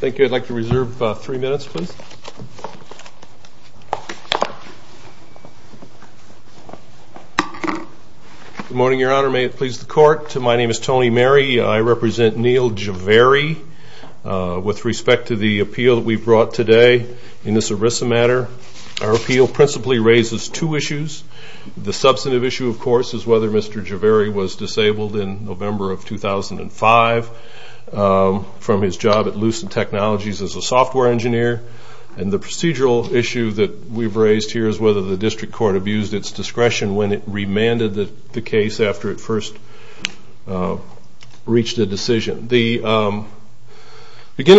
Thank you. I'd like to reserve three minutes, please. Good morning, Your Honor. May it please the Court? My name is Tony Mary. I represent Neal Javery. With respect to the appeal that we've brought today in this ERISA matter, our appeal principally raises two issues. The substantive issue, of course, is whether Mr. Javery was disabled in November of 2005 from his job at Lucent Technologies as a software engineer. And the procedural issue that we've raised here is whether the district court abused its discretion when it remanded the case after it first reached a decision. Beginning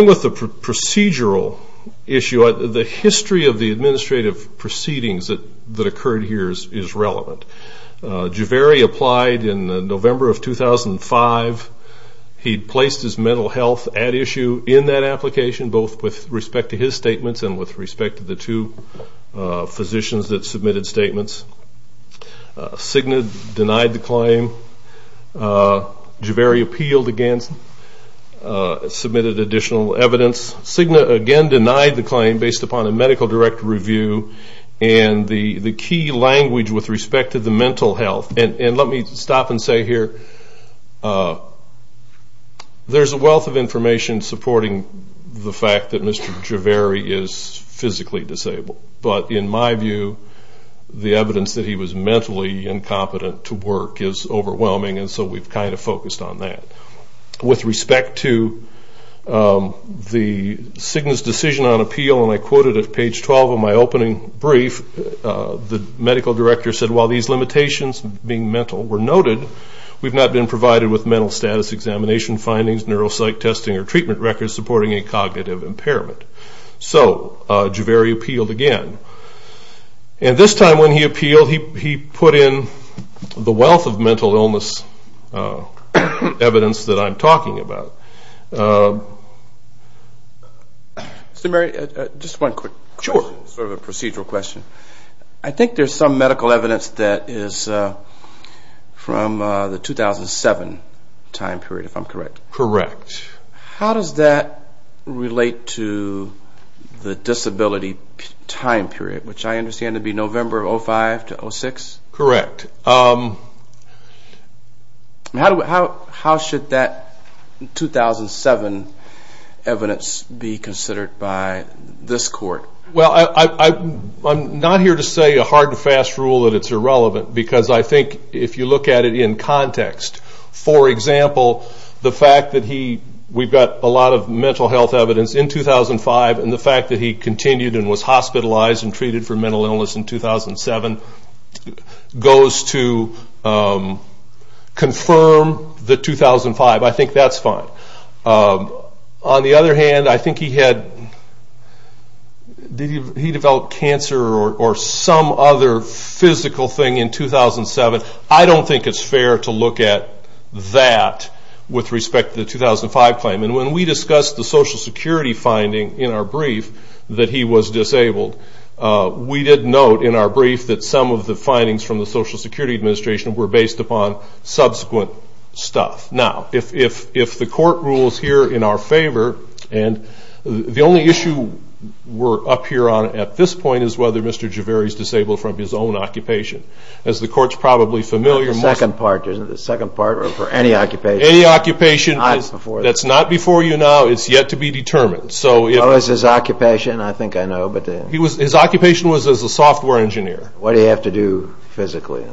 with the procedural issue, the history of the administrative proceedings that occurred here is relevant. Javery applied in November of 2005. He placed his mental health at issue in that application, both with respect to his statements and with respect to the two physicians that submitted statements. Cigna denied the claim. Javery appealed against it, submitted additional evidence. Cigna again denied the claim based upon a medical direct review and the key language with respect to the mental health. And let me stop and say here, there's a wealth of information supporting the fact that Mr. Javery is physically disabled. But in my view, the evidence that he was mentally incompetent to work is overwhelming, and so we've kind of focused on that. With respect to the Cigna's decision on appeal, and I quoted at page 12 of my opening brief, the medical director said, while these limitations being mental were noted, we've not been provided with mental status examination findings, neuropsych testing or treatment records supporting a cognitive impairment. So Javery appealed again. And this time when he appealed, he put in the wealth of mental illness evidence that I'm talking about. Mr. Murray, just one quick question. Sure. This is sort of a procedural question. I think there's some medical evidence that is from the 2007 time period, if I'm correct. Correct. How does that relate to the disability time period, which I understand to be November of 2005 to 2006? Correct. How should that 2007 evidence be considered by this court? Well, I'm not here to say a hard and fast rule that it's irrelevant, because I think if you look at it in context, for example, the fact that he, we've got a lot of mental health evidence in 2005, and the fact that he continued and was hospitalized and treated for mental illness in 2007, goes to confirm the 2005. I think that's fine. On the other hand, I think he developed cancer or some other physical thing in 2007. I don't think it's fair to look at that with respect to the 2005 claim. And when we discussed the Social Security finding in our brief that he was disabled, we did note in our brief that some of the findings from the Social Security Administration were based upon subsequent stuff. Now, if the court rules here in our favor, and the only issue we're up here on at this point is whether Mr. Javeri is disabled from his own occupation. As the court's probably familiar with. The second part, isn't it? The second part for any occupation. Any occupation that's not before you now, it's yet to be determined. So is his occupation, I think I know. His occupation was as a software engineer. What did he have to do physically?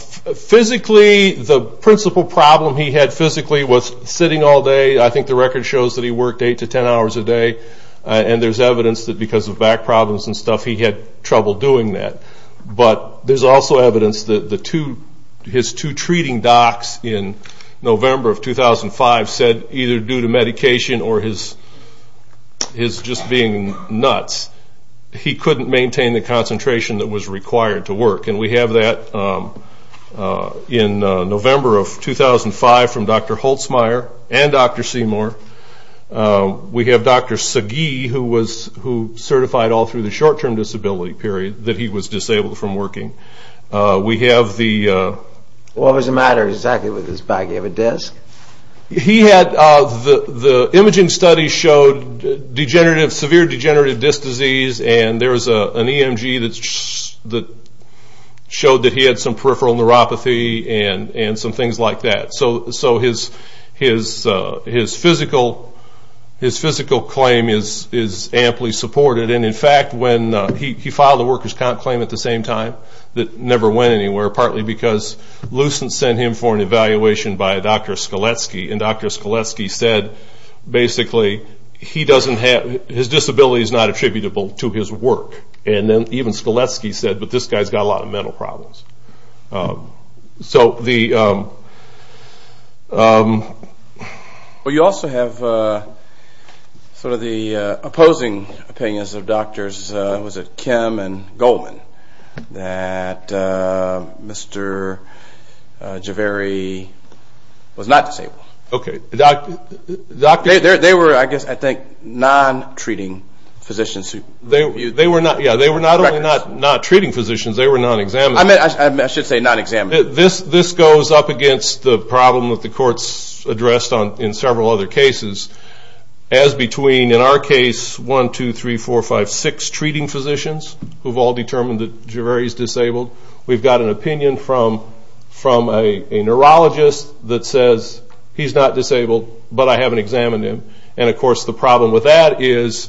Physically, the principal problem he had physically was sitting all day. I think the record shows that he worked 8 to 10 hours a day. And there's evidence that because of back problems and stuff, he had trouble doing that. But there's also evidence that his two treating docs in November of 2005 said, either due to medication or his just being nuts, he couldn't maintain the concentration that was required to work. And we have that in November of 2005 from Dr. Holtzmeier and Dr. Seymour. We have Dr. Sagi who certified all through the short-term disability period that he was disabled from working. We have the... What was the matter exactly with his back? Do you have a disc? He had, the imaging studies showed severe degenerative disc disease. And there was an EMG that showed that he had some peripheral neuropathy and some things like that. So his physical claim is amply supported. And, in fact, when he filed a workers' comp claim at the same time, it never went anywhere, partly because Lucent sent him for an evaluation by Dr. Skaletsky. And Dr. Skaletsky said, basically, his disability is not attributable to his work. And then even Skaletsky said, but this guy's got a lot of mental problems. So the... Well, you also have sort of the opposing opinions of doctors, was it Kim and Goldman, that Mr. Javeri was not disabled? Okay. They were, I guess, I think, non-treating physicians. Yeah, they were not only not treating physicians, they were non-examining. I should say non-examining. This goes up against the problem that the courts addressed in several other cases, as between, in our case, one, two, three, four, five, six treating physicians who've all determined that Javeri's disabled. We've got an opinion from a neurologist that says he's not disabled, but I haven't examined him. And, of course, the problem with that is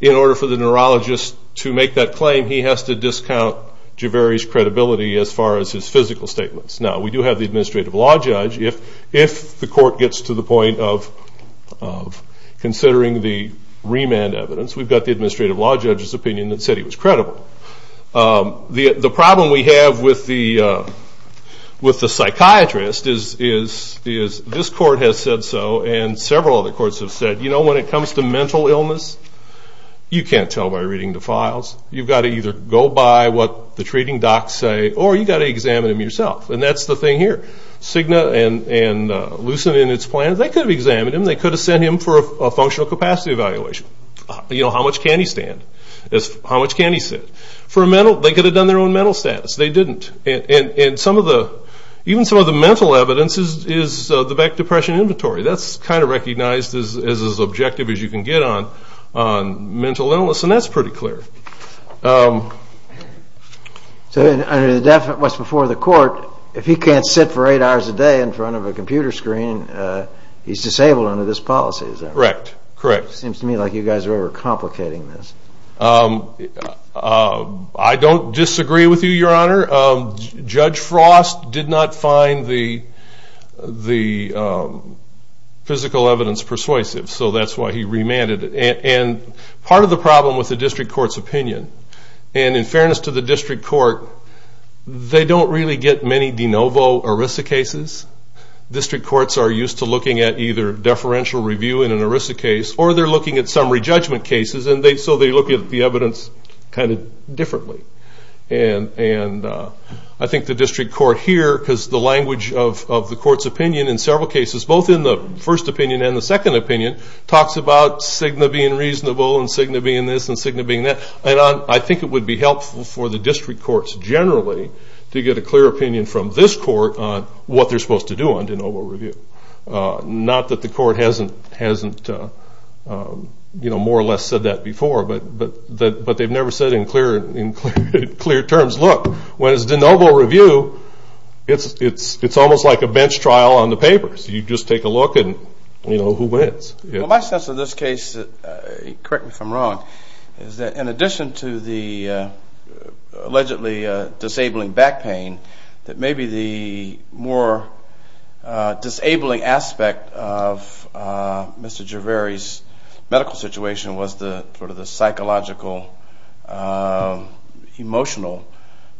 in order for the neurologist to make that claim, he has to discount Javeri's credibility as far as his physical statements. Now, we do have the administrative law judge. If the court gets to the point of considering the remand evidence, we've got the administrative law judge's opinion that said he was credible. The problem we have with the psychiatrist is this court has said so, and several other courts have said, you know, when it comes to mental illness, you can't tell by reading the files. You've got to either go by what the treating docs say, or you've got to examine him yourself. And that's the thing here. Cigna and Lucent in its plan, they could have examined him. They could have sent him for a functional capacity evaluation. You know, how much can he stand? How much can he sit? For a mental, they could have done their own mental status. They didn't. And some of the, even some of the mental evidence is the Beck Depression Inventory. That's kind of recognized as as objective as you can get on mental illness, and that's pretty clear. So under the definite what's before the court, if he can't sit for eight hours a day in front of a computer screen, he's disabled under this policy, is that right? Correct. Seems to me like you guys are overcomplicating this. I don't disagree with you, Your Honor. Judge Frost did not find the physical evidence persuasive, so that's why he remanded it. And part of the problem with the district court's opinion, and in fairness to the district court, they don't really get many de novo ERISA cases. District courts are used to looking at either deferential review in an ERISA case or they're looking at summary judgment cases, and so they look at the evidence kind of differently. And I think the district court here, because the language of the court's opinion in several cases, both in the first opinion and the second opinion, talks about Cigna being reasonable and Cigna being this and Cigna being that. And I think it would be helpful for the district courts generally to get a clear opinion from this court on what they're supposed to do on de novo review. Not that the court hasn't more or less said that before, but they've never said it in clear terms. Look, when it's de novo review, it's almost like a bench trial on the papers. You just take a look and, you know, who wins. Well, my sense of this case, correct me if I'm wrong, is that in addition to the allegedly disabling back pain, that maybe the more disabling aspect of Mr. Gervais' medical situation was sort of the psychological, emotional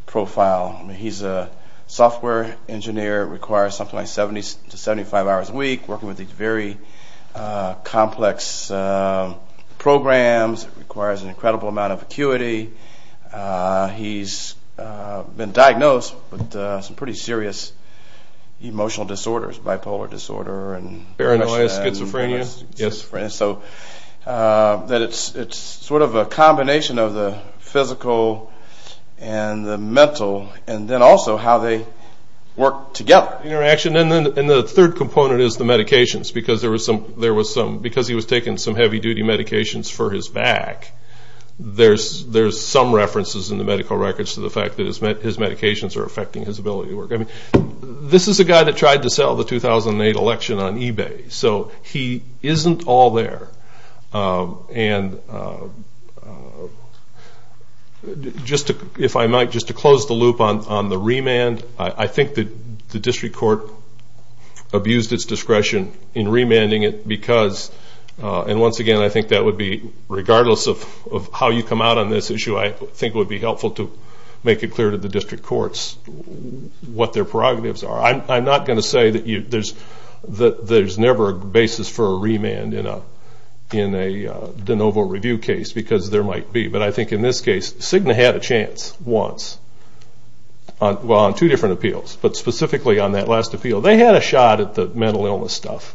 profile. He's a software engineer, requires something like 70 to 75 hours a week, working with these very complex programs, requires an incredible amount of acuity. He's been diagnosed with some pretty serious emotional disorders, bipolar disorder. Paranoia, schizophrenia. So it's sort of a combination of the physical and the mental, and then also how they work together. Interaction. And the third component is the medications, because he was taking some heavy-duty medications for his back. There's some references in the medical records to the fact that his medications are affecting his ability to work. This is a guy that tried to sell the 2008 election on eBay. So he isn't all there. And just to close the loop on the remand, I think the district court abused its discretion in remanding it because, and once again I think that would be regardless of how you come out on this issue, I think it would be helpful to make it clear to the district courts what their prerogatives are. I'm not going to say that there's never a basis for a remand in a de novo review case, because there might be. But I think in this case, Cigna had a chance once on two different appeals, but specifically on that last appeal. They had a shot at the mental illness stuff.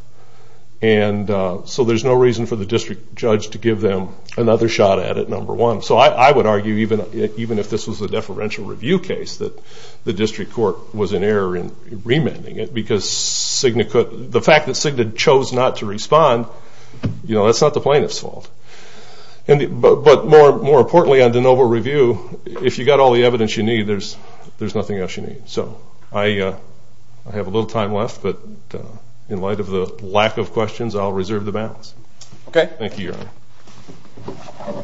So there's no reason for the district judge to give them another shot at it, number one. So I would argue, even if this was a deferential review case, that the district court was in error in remanding it, because the fact that Cigna chose not to respond, that's not the plaintiff's fault. But more importantly, on de novo review, if you've got all the evidence you need, there's nothing else you need. So I have a little time left, but in light of the lack of questions, Thank you, Your Honor.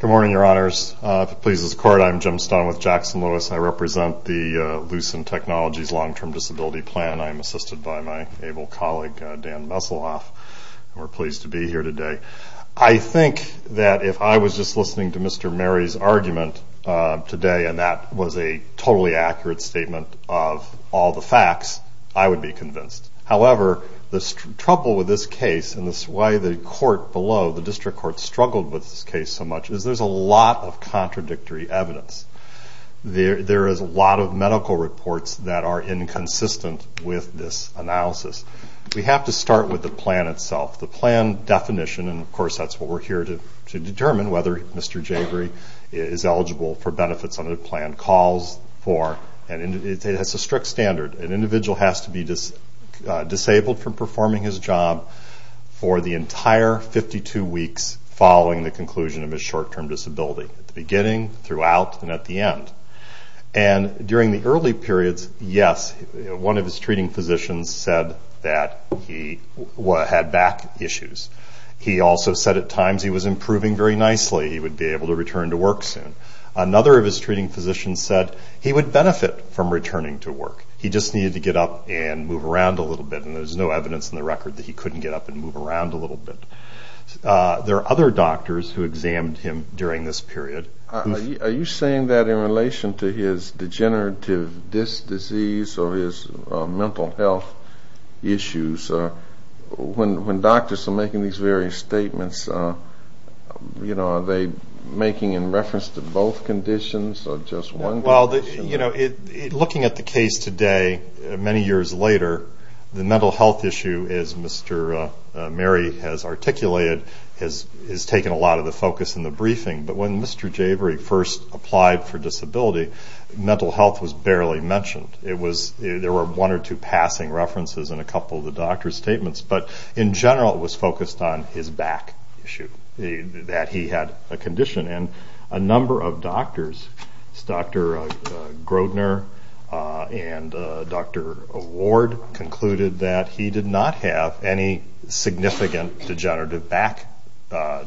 Good morning, Your Honors. If it pleases the Court, I'm Jim Stone with Jackson-Lewis. I represent the Lucent Technologies Long-Term Disability Plan. I'm assisted by my able colleague, Dan Messelhoff. We're pleased to be here today. I think that if I was just listening to Mr. Murray's argument today, and that was a totally accurate statement of all the facts, I would be convinced. However, the trouble with this case, and why the court below, the district court, struggled with this case so much, is there's a lot of contradictory evidence. There is a lot of medical reports that are inconsistent with this analysis. We have to start with the plan itself. The plan definition, and of course that's what we're here to determine, whether Mr. Javery is eligible for benefits under the plan calls for, and it's a strict standard. An individual has to be disabled from performing his job for the entire 52 weeks following the conclusion of his short-term disability, at the beginning, throughout, and at the end. During the early periods, yes, one of his treating physicians said that he had back issues. He also said at times he was improving very nicely. He would be able to return to work soon. Another of his treating physicians said he would benefit from returning to work. He just needed to get up and move around a little bit, and there's no evidence in the record that he couldn't get up and move around a little bit. There are other doctors who examined him during this period. Are you saying that in relation to his degenerative disc disease or his mental health issues, when doctors are making these various statements, are they making in reference to both conditions or just one condition? Well, looking at the case today, many years later, the mental health issue, as Mr. Mary has articulated, has taken a lot of the focus in the briefing. But when Mr. Javery first applied for disability, mental health was barely mentioned. There were one or two passing references in a couple of the doctor's statements, but in general it was focused on his back issue, that he had a condition. And a number of doctors, Dr. Grodner and Dr. Ward, concluded that he did not have any significant degenerative back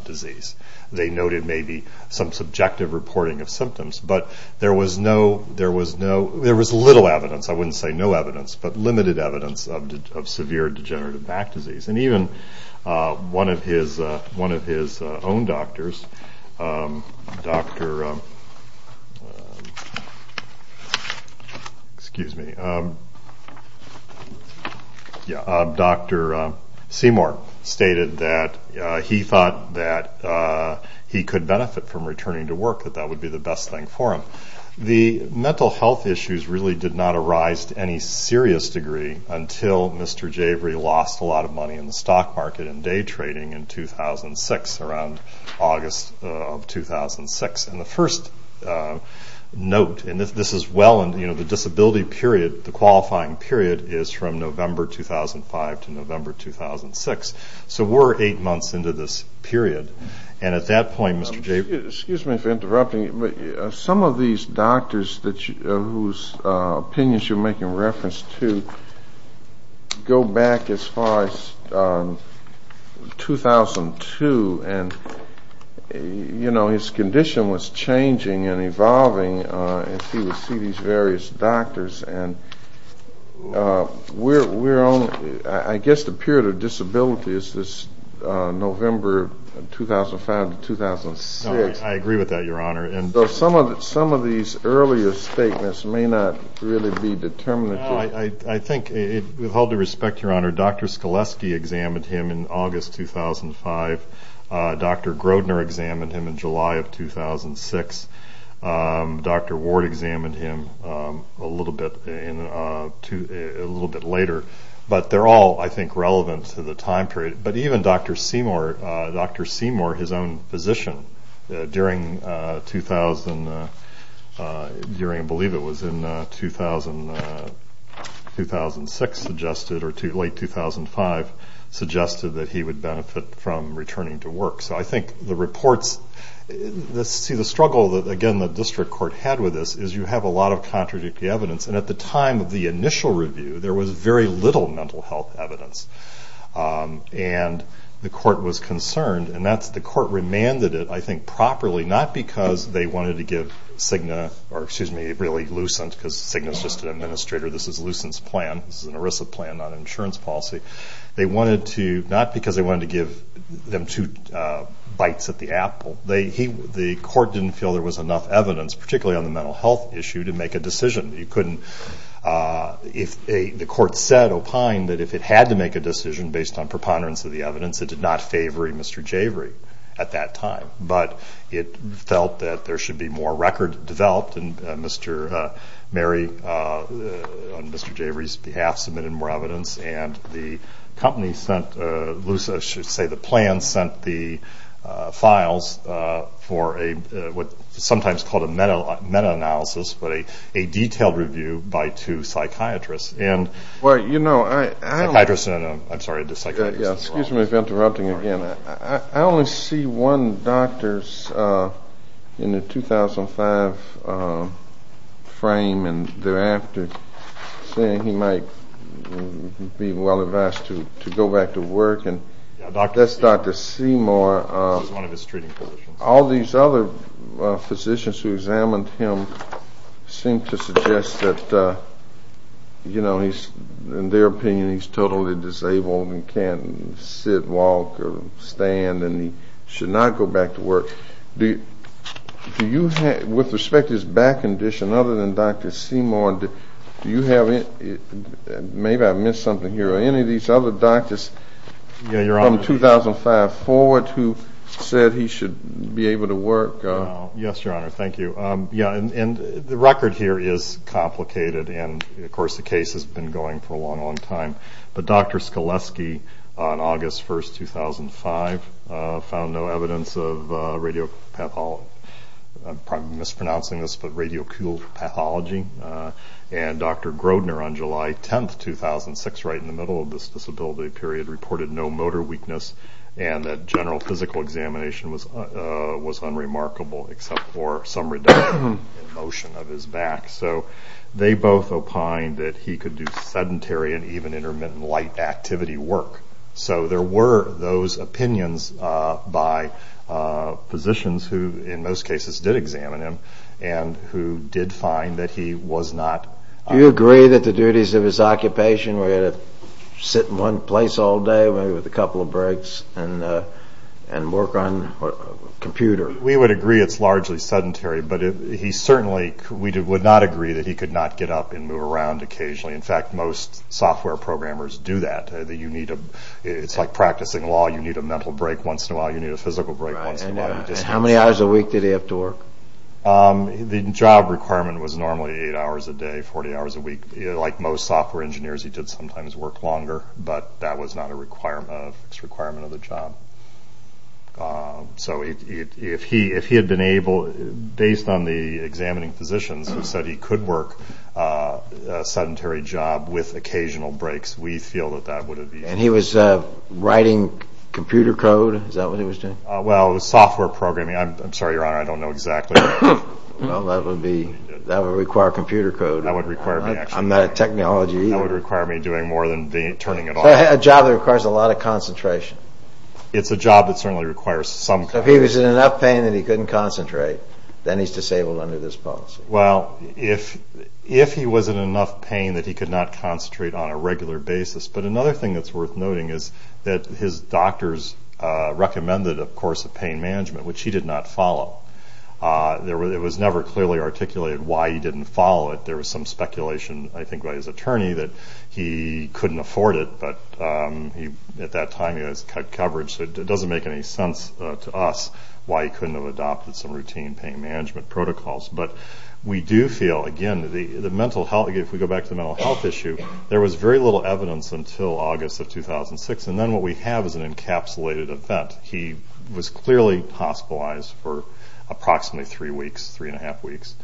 disease. They noted maybe some subjective reporting of symptoms, but there was little evidence, I wouldn't say no evidence, but limited evidence of severe degenerative back disease. And even one of his own doctors, Dr. Seymour, stated that he thought that he could benefit from returning to work, that that would be the best thing for him. The mental health issues really did not arise to any serious degree until Mr. Javery lost a lot of money in the stock market and day trading in 2006, around August of 2006. And the first note, and this is well into the disability period, the qualifying period is from November 2005 to November 2006. So we're eight months into this period. And at that point, Mr. Javery... Excuse me for interrupting, but some of these doctors whose opinions you're making reference to, go back as far as 2002. And, you know, his condition was changing and evolving, and he would see these various doctors. And I guess the period of disability is this November 2005 to 2006. I agree with that, Your Honor. So some of these earlier statements may not really be determinative. I think, with all due respect, Your Honor, Dr. Skoleski examined him in August 2005. Dr. Grodner examined him in July of 2006. Dr. Ward examined him a little bit later. But they're all, I think, relevant to the time period. But even Dr. Seymour, his own physician, during, I believe it was in 2006 suggested, or late 2005 suggested that he would benefit from returning to work. So I think the reports see the struggle that, again, the district court had with this is you have a lot of contradictory evidence. And at the time of the initial review, there was very little mental health evidence. And the court was concerned. And the court remanded it, I think, properly, not because they wanted to give Cigna or, excuse me, really Lucent, because Cigna is just an administrator. This is Lucent's plan. This is an ERISA plan, not an insurance policy. Not because they wanted to give them two bites at the apple. The court didn't feel there was enough evidence, particularly on the mental health issue, to make a decision. You couldn't. The court said, opined, that if it had to make a decision based on preponderance of the evidence, it did not favor Mr. Javery at that time. But it felt that there should be more record developed. And Mr. Mary, on Mr. Javery's behalf, submitted more evidence. And the company sent loose, I should say the plan, sent the files for what is sometimes called a meta-analysis, but a detailed review by two psychiatrists. Well, you know, I only see one doctor in the 2005 frame, and thereafter saying he might be well-advised to go back to work. That's Dr. Seymour. This is one of his treating physicians. All these other physicians who examined him seemed to suggest that, you know, in their opinion he's totally disabled and can't sit, walk, or stand, and he should not go back to work. Do you have, with respect to his back condition, other than Dr. Seymour, do you have any, maybe I missed something here, or any of these other doctors from 2005 forward who said he should be able to work? No. Yes, Your Honor. Thank you. Yeah, and the record here is complicated, and, of course, the case has been going for a long, long time. But Dr. Skoleski, on August 1, 2005, found no evidence of radiopathology. I'm probably mispronouncing this, but radiocooled pathology. And Dr. Grodner, on July 10, 2006, right in the middle of this disability period, reported no motor weakness and that general physical examination was unremarkable, except for some redundant motion of his back. So they both opined that he could do sedentary and even intermittent light activity work. So there were those opinions by physicians who, in most cases, did examine him and who did find that he was not. Do you agree that the duties of his occupation were to sit in one place all day, maybe with a couple of breaks, and work on a computer? We would agree it's largely sedentary, but he certainly would not agree that he could not get up and move around occasionally. In fact, most software programmers do that. It's like practicing law. You need a mental break once in a while. You need a physical break once in a while. How many hours a week did he have to work? The job requirement was normally 8 hours a day, 40 hours a week. Like most software engineers, he did sometimes work longer, but that was not a fixed requirement of the job. So if he had been able, based on the examining physicians, who said he could work a sedentary job with occasional breaks, we feel that that would have been easier. And he was writing computer code? Is that what he was doing? Well, software programming. I'm sorry, Your Honor, I don't know exactly. Well, that would require computer code. That would require me actually. I'm not a technology either. That would require me doing more than turning it on. A job that requires a lot of concentration. It's a job that certainly requires some concentration. If he was in enough pain that he couldn't concentrate, then he's disabled under this policy. Well, if he was in enough pain that he could not concentrate on a regular basis. But another thing that's worth noting is that his doctors recommended, of course, a pain management, which he did not follow. It was never clearly articulated why he didn't follow it. There was some speculation, I think, by his attorney that he couldn't afford it, but at that time he had his coverage, so it doesn't make any sense to us why he couldn't have adopted some routine pain management protocols. But we do feel, again, the mental health, if we go back to the mental health issue, there was very little evidence until August of 2006. And then what we have is an encapsulated event. He was clearly hospitalized for approximately three weeks, three and a half weeks,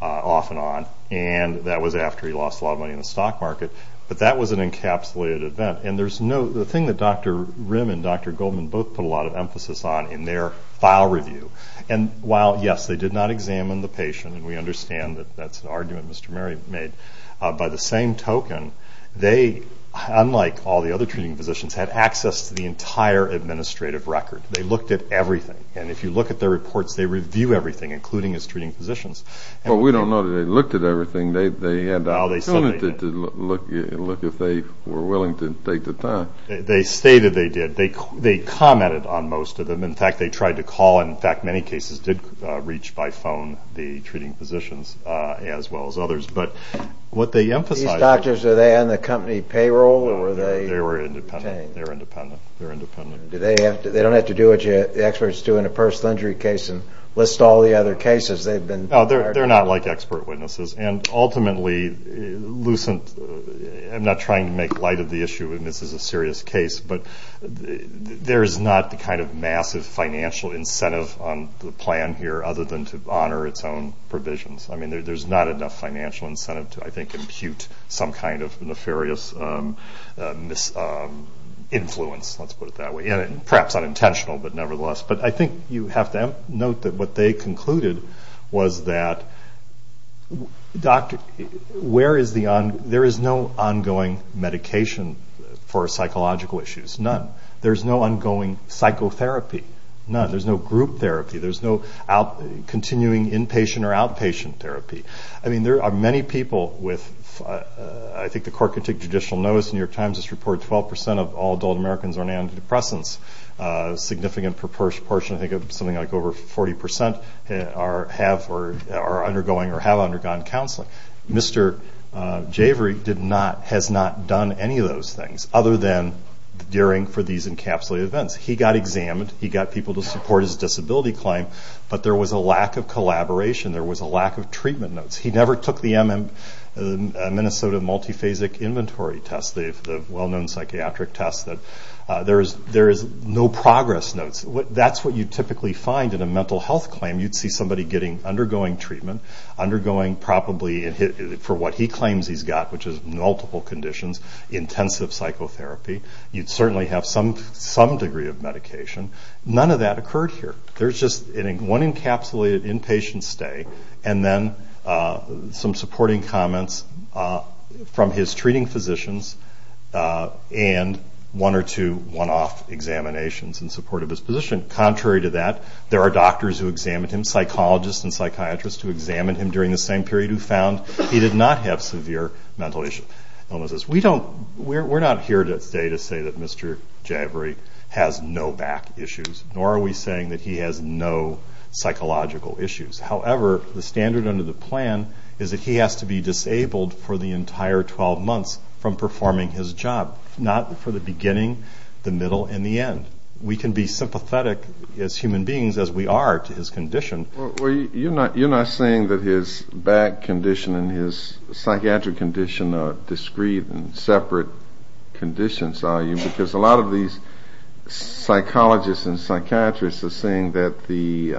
off and on. And that was after he lost a lot of money in the stock market. But that was an encapsulated event. And the thing that Dr. Rimm and Dr. Goldman both put a lot of emphasis on in their file review, and while, yes, they did not examine the patient, and we understand that that's an argument Mr. Mary made, by the same token, they, unlike all the other treating physicians, had access to the entire administrative record. They looked at everything. And if you look at their reports, they review everything, including his treating physicians. Well, we don't know that they looked at everything. They had the opportunity to look if they were willing to take the time. They stated they did. They commented on most of them. In fact, they tried to call and, in fact, many cases did reach by phone the treating physicians as well as others. These doctors, were they on the company payroll? They were independent. They don't have to do what the experts do in a personal injury case and list all the other cases. No, they're not like expert witnesses. And ultimately, I'm not trying to make light of the issue, and this is a serious case, but there is not the kind of massive financial incentive on the plan here other than to honor its own provisions. I mean, there's not enough financial incentive to, I think, impute some kind of nefarious influence. Let's put it that way. And perhaps unintentional, but nevertheless. But I think you have to note that what they concluded was that there is no ongoing medication for psychological issues. None. There's no ongoing psychotherapy. None. There's no group therapy. There's no continuing inpatient or outpatient therapy. I mean, there are many people with, I think the court can take judicial notice, the New York Times has reported 12% of all adult Americans are on antidepressants. A significant proportion, I think something like over 40%, are undergoing or have undergone counseling. Mr. Javery has not done any of those things other than for these encapsulated events. He got examined. He got people to support his disability claim. But there was a lack of collaboration. There was a lack of treatment notes. He never took the Minnesota Multiphasic Inventory Test, the well-known psychiatric test. There is no progress notes. That's what you typically find in a mental health claim. You'd see somebody undergoing treatment, undergoing probably for what he claims he's got, which is multiple conditions, intensive psychotherapy. You'd certainly have some degree of medication. None of that occurred here. There's just one encapsulated inpatient stay and then some supporting comments from his treating physicians and one or two one-off examinations in support of his position. Contrary to that, there are doctors who examined him, psychologists and psychiatrists who examined him during the same period who found he did not have severe mental issues. We're not here to say that Mr. Javory has no back issues, nor are we saying that he has no psychological issues. However, the standard under the plan is that he has to be disabled for the entire 12 months from performing his job, not for the beginning, the middle, and the end. We can be sympathetic as human beings as we are to his condition. You're not saying that his back condition and his psychiatric condition are discrete and separate conditions, are you? Because a lot of these psychologists and psychiatrists are saying that the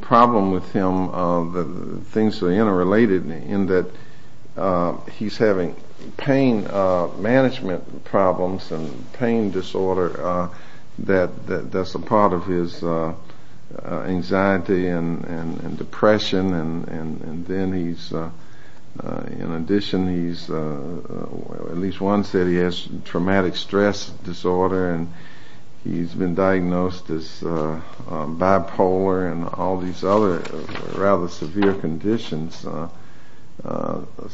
problem with him, the things that are interrelated in that he's having pain management problems and pain disorder that's a part of his anxiety and depression. In addition, at least one said he has traumatic stress disorder and he's been diagnosed as bipolar and all these other rather severe conditions. So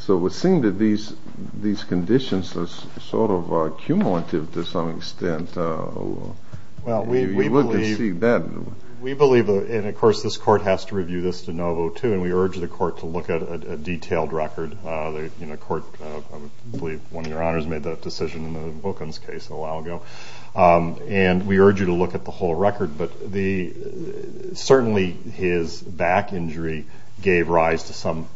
it would seem that these conditions are sort of cumulative to some extent. We believe, and of course this court has to review this de novo too, and we urge the court to look at a detailed record. I believe one of your honors made that decision in the Wilkins case a while ago. And we urge you to look at the whole record. But certainly his back injury gave rise to some,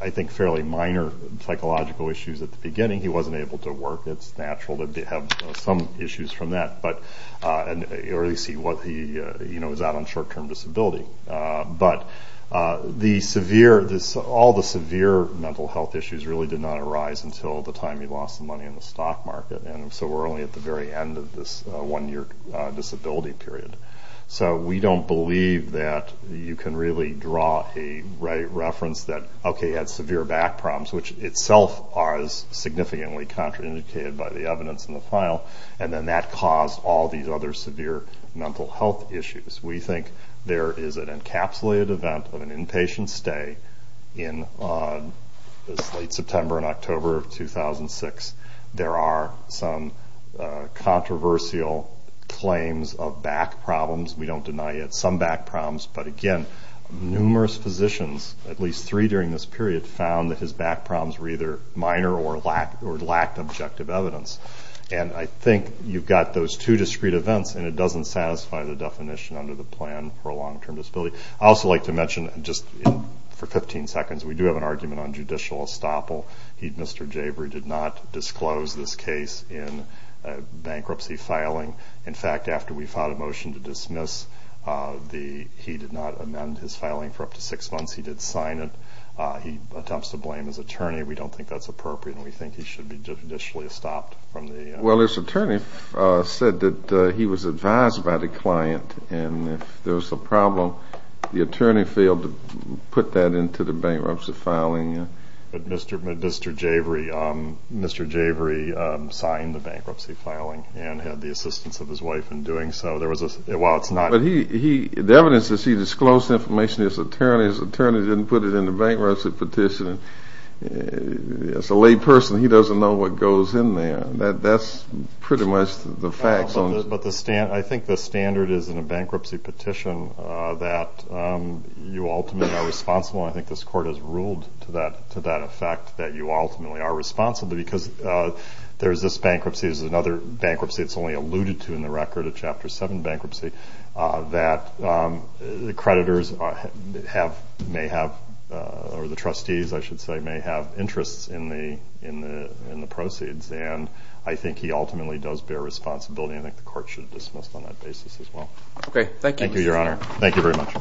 I think, fairly minor psychological issues at the beginning. He wasn't able to work. It's natural to have some issues from that, or at least he was out on short-term disability. But all the severe mental health issues really did not arise until the time he lost the money in the stock market, and so we're only at the very end of this one-year disability period. So we don't believe that you can really draw a reference that, okay, he had severe back problems, which itself are significantly contraindicated by the evidence in the file, and then that caused all these other severe mental health issues. We think there is an encapsulated event of an inpatient stay in late September and October of 2006. There are some controversial claims of back problems. We don't deny it, some back problems. But, again, numerous physicians, at least three during this period, found that his back problems were either minor or lacked objective evidence. And I think you've got those two discrete events, and it doesn't satisfy the definition under the plan for a long-term disability. I'd also like to mention, just for 15 seconds, we do have an argument on judicial estoppel. Mr. Jabry did not disclose this case in bankruptcy filing. In fact, after we filed a motion to dismiss, he did not amend his filing for up to six months. He did sign it. He attempts to blame his attorney. We don't think that's appropriate, and we think he should be judicially estopped from the- Well, his attorney said that he was advised by the client, and if there was a problem, the attorney failed to put that into the bankruptcy filing. But Mr. Jabry signed the bankruptcy filing and had the assistance of his wife in doing so. While it's not- But the evidence that he disclosed information to his attorney, his attorney didn't put it in the bankruptcy petition. As a lay person, he doesn't know what goes in there. That's pretty much the facts on- But I think the standard is in a bankruptcy petition that you ultimately are responsible. I think this court has ruled to that effect that you ultimately are responsible because there's this bankruptcy, there's another bankruptcy it's only alluded to in the record, a Chapter 7 bankruptcy, that the creditors may have- or the trustees, I should say, may have interests in the proceeds. And I think he ultimately does bear responsibility. I think the court should dismiss on that basis as well. Okay. Thank you, Mr. Jabry. Thank you, Your Honor. Thank you very much.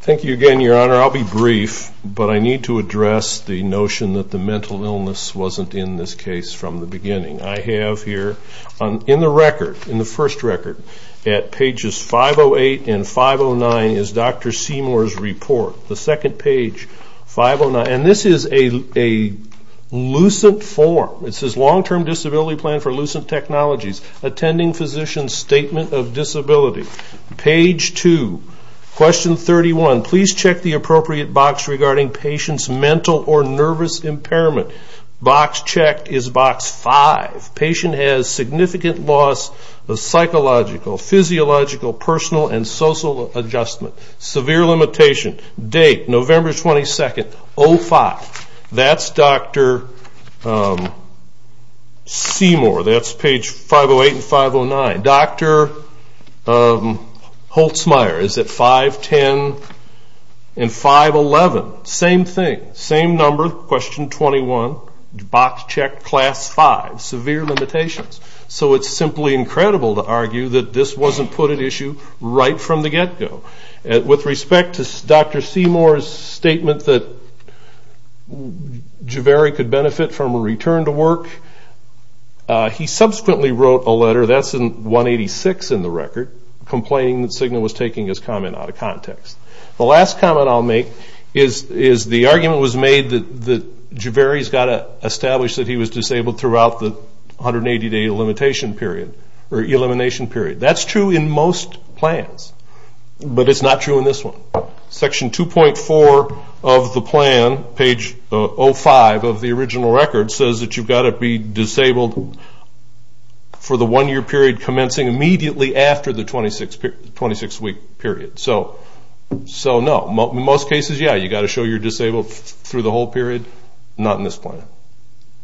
Thank you again, Your Honor. I'll be brief, but I need to address the notion that the mental illness wasn't in this case from the beginning. I have here in the record, in the first record, at pages 508 and 509 is Dr. Seymour's report. The second page, 509. And this is a lucent form. It says, Long-term disability plan for lucent technologies. Attending physician's statement of disability. Page 2, question 31. Please check the appropriate box regarding patient's mental or nervous impairment. Box checked is box 5. Patient has significant loss of psychological, physiological, personal, and social adjustment. Severe limitation. Date, November 22nd, 05. That's Dr. Seymour. That's page 508 and 509. Dr. Holtzmeier is at 510 and 511. Same thing. Same number, question 21. Box checked, class 5. Severe limitations. So it's simply incredible to argue that this wasn't put at issue right from the get-go. With respect to Dr. Seymour's statement that Javeri could benefit from a return to work, he subsequently wrote a letter, that's in 186 in the record, complaining that Cigna was taking his comment out of context. The last comment I'll make is the argument was made that Javeri has got to establish that he was disabled throughout the 180-day elimination period. That's true in most plans, but it's not true in this one. Section 2.4 of the plan, page 05 of the original record, says that you've got to be disabled for the one-year period commencing immediately after the 26-week period. So, no. In most cases, yeah, you've got to show you're disabled through the whole period. Not in this plan.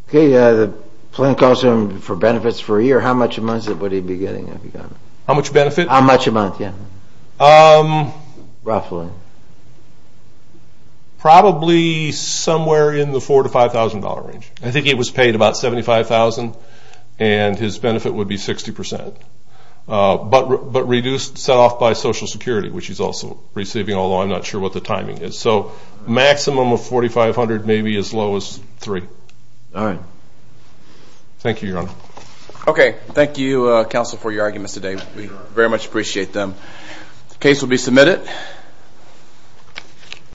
Okay, the plan calls for benefits for a year. How much a month would he be getting? How much benefit? How much a month, yeah. Roughly. Probably somewhere in the $4,000 to $5,000 range. I think he was paid about $75,000, and his benefit would be 60%. But reduced, set off by Social Security, which he's also receiving, although I'm not sure what the timing is. So maximum of $4,500, maybe as low as $3,000. All right. Thank you, Your Honor. Okay, thank you, counsel, for your arguments today. We very much appreciate them. The case will be submitted.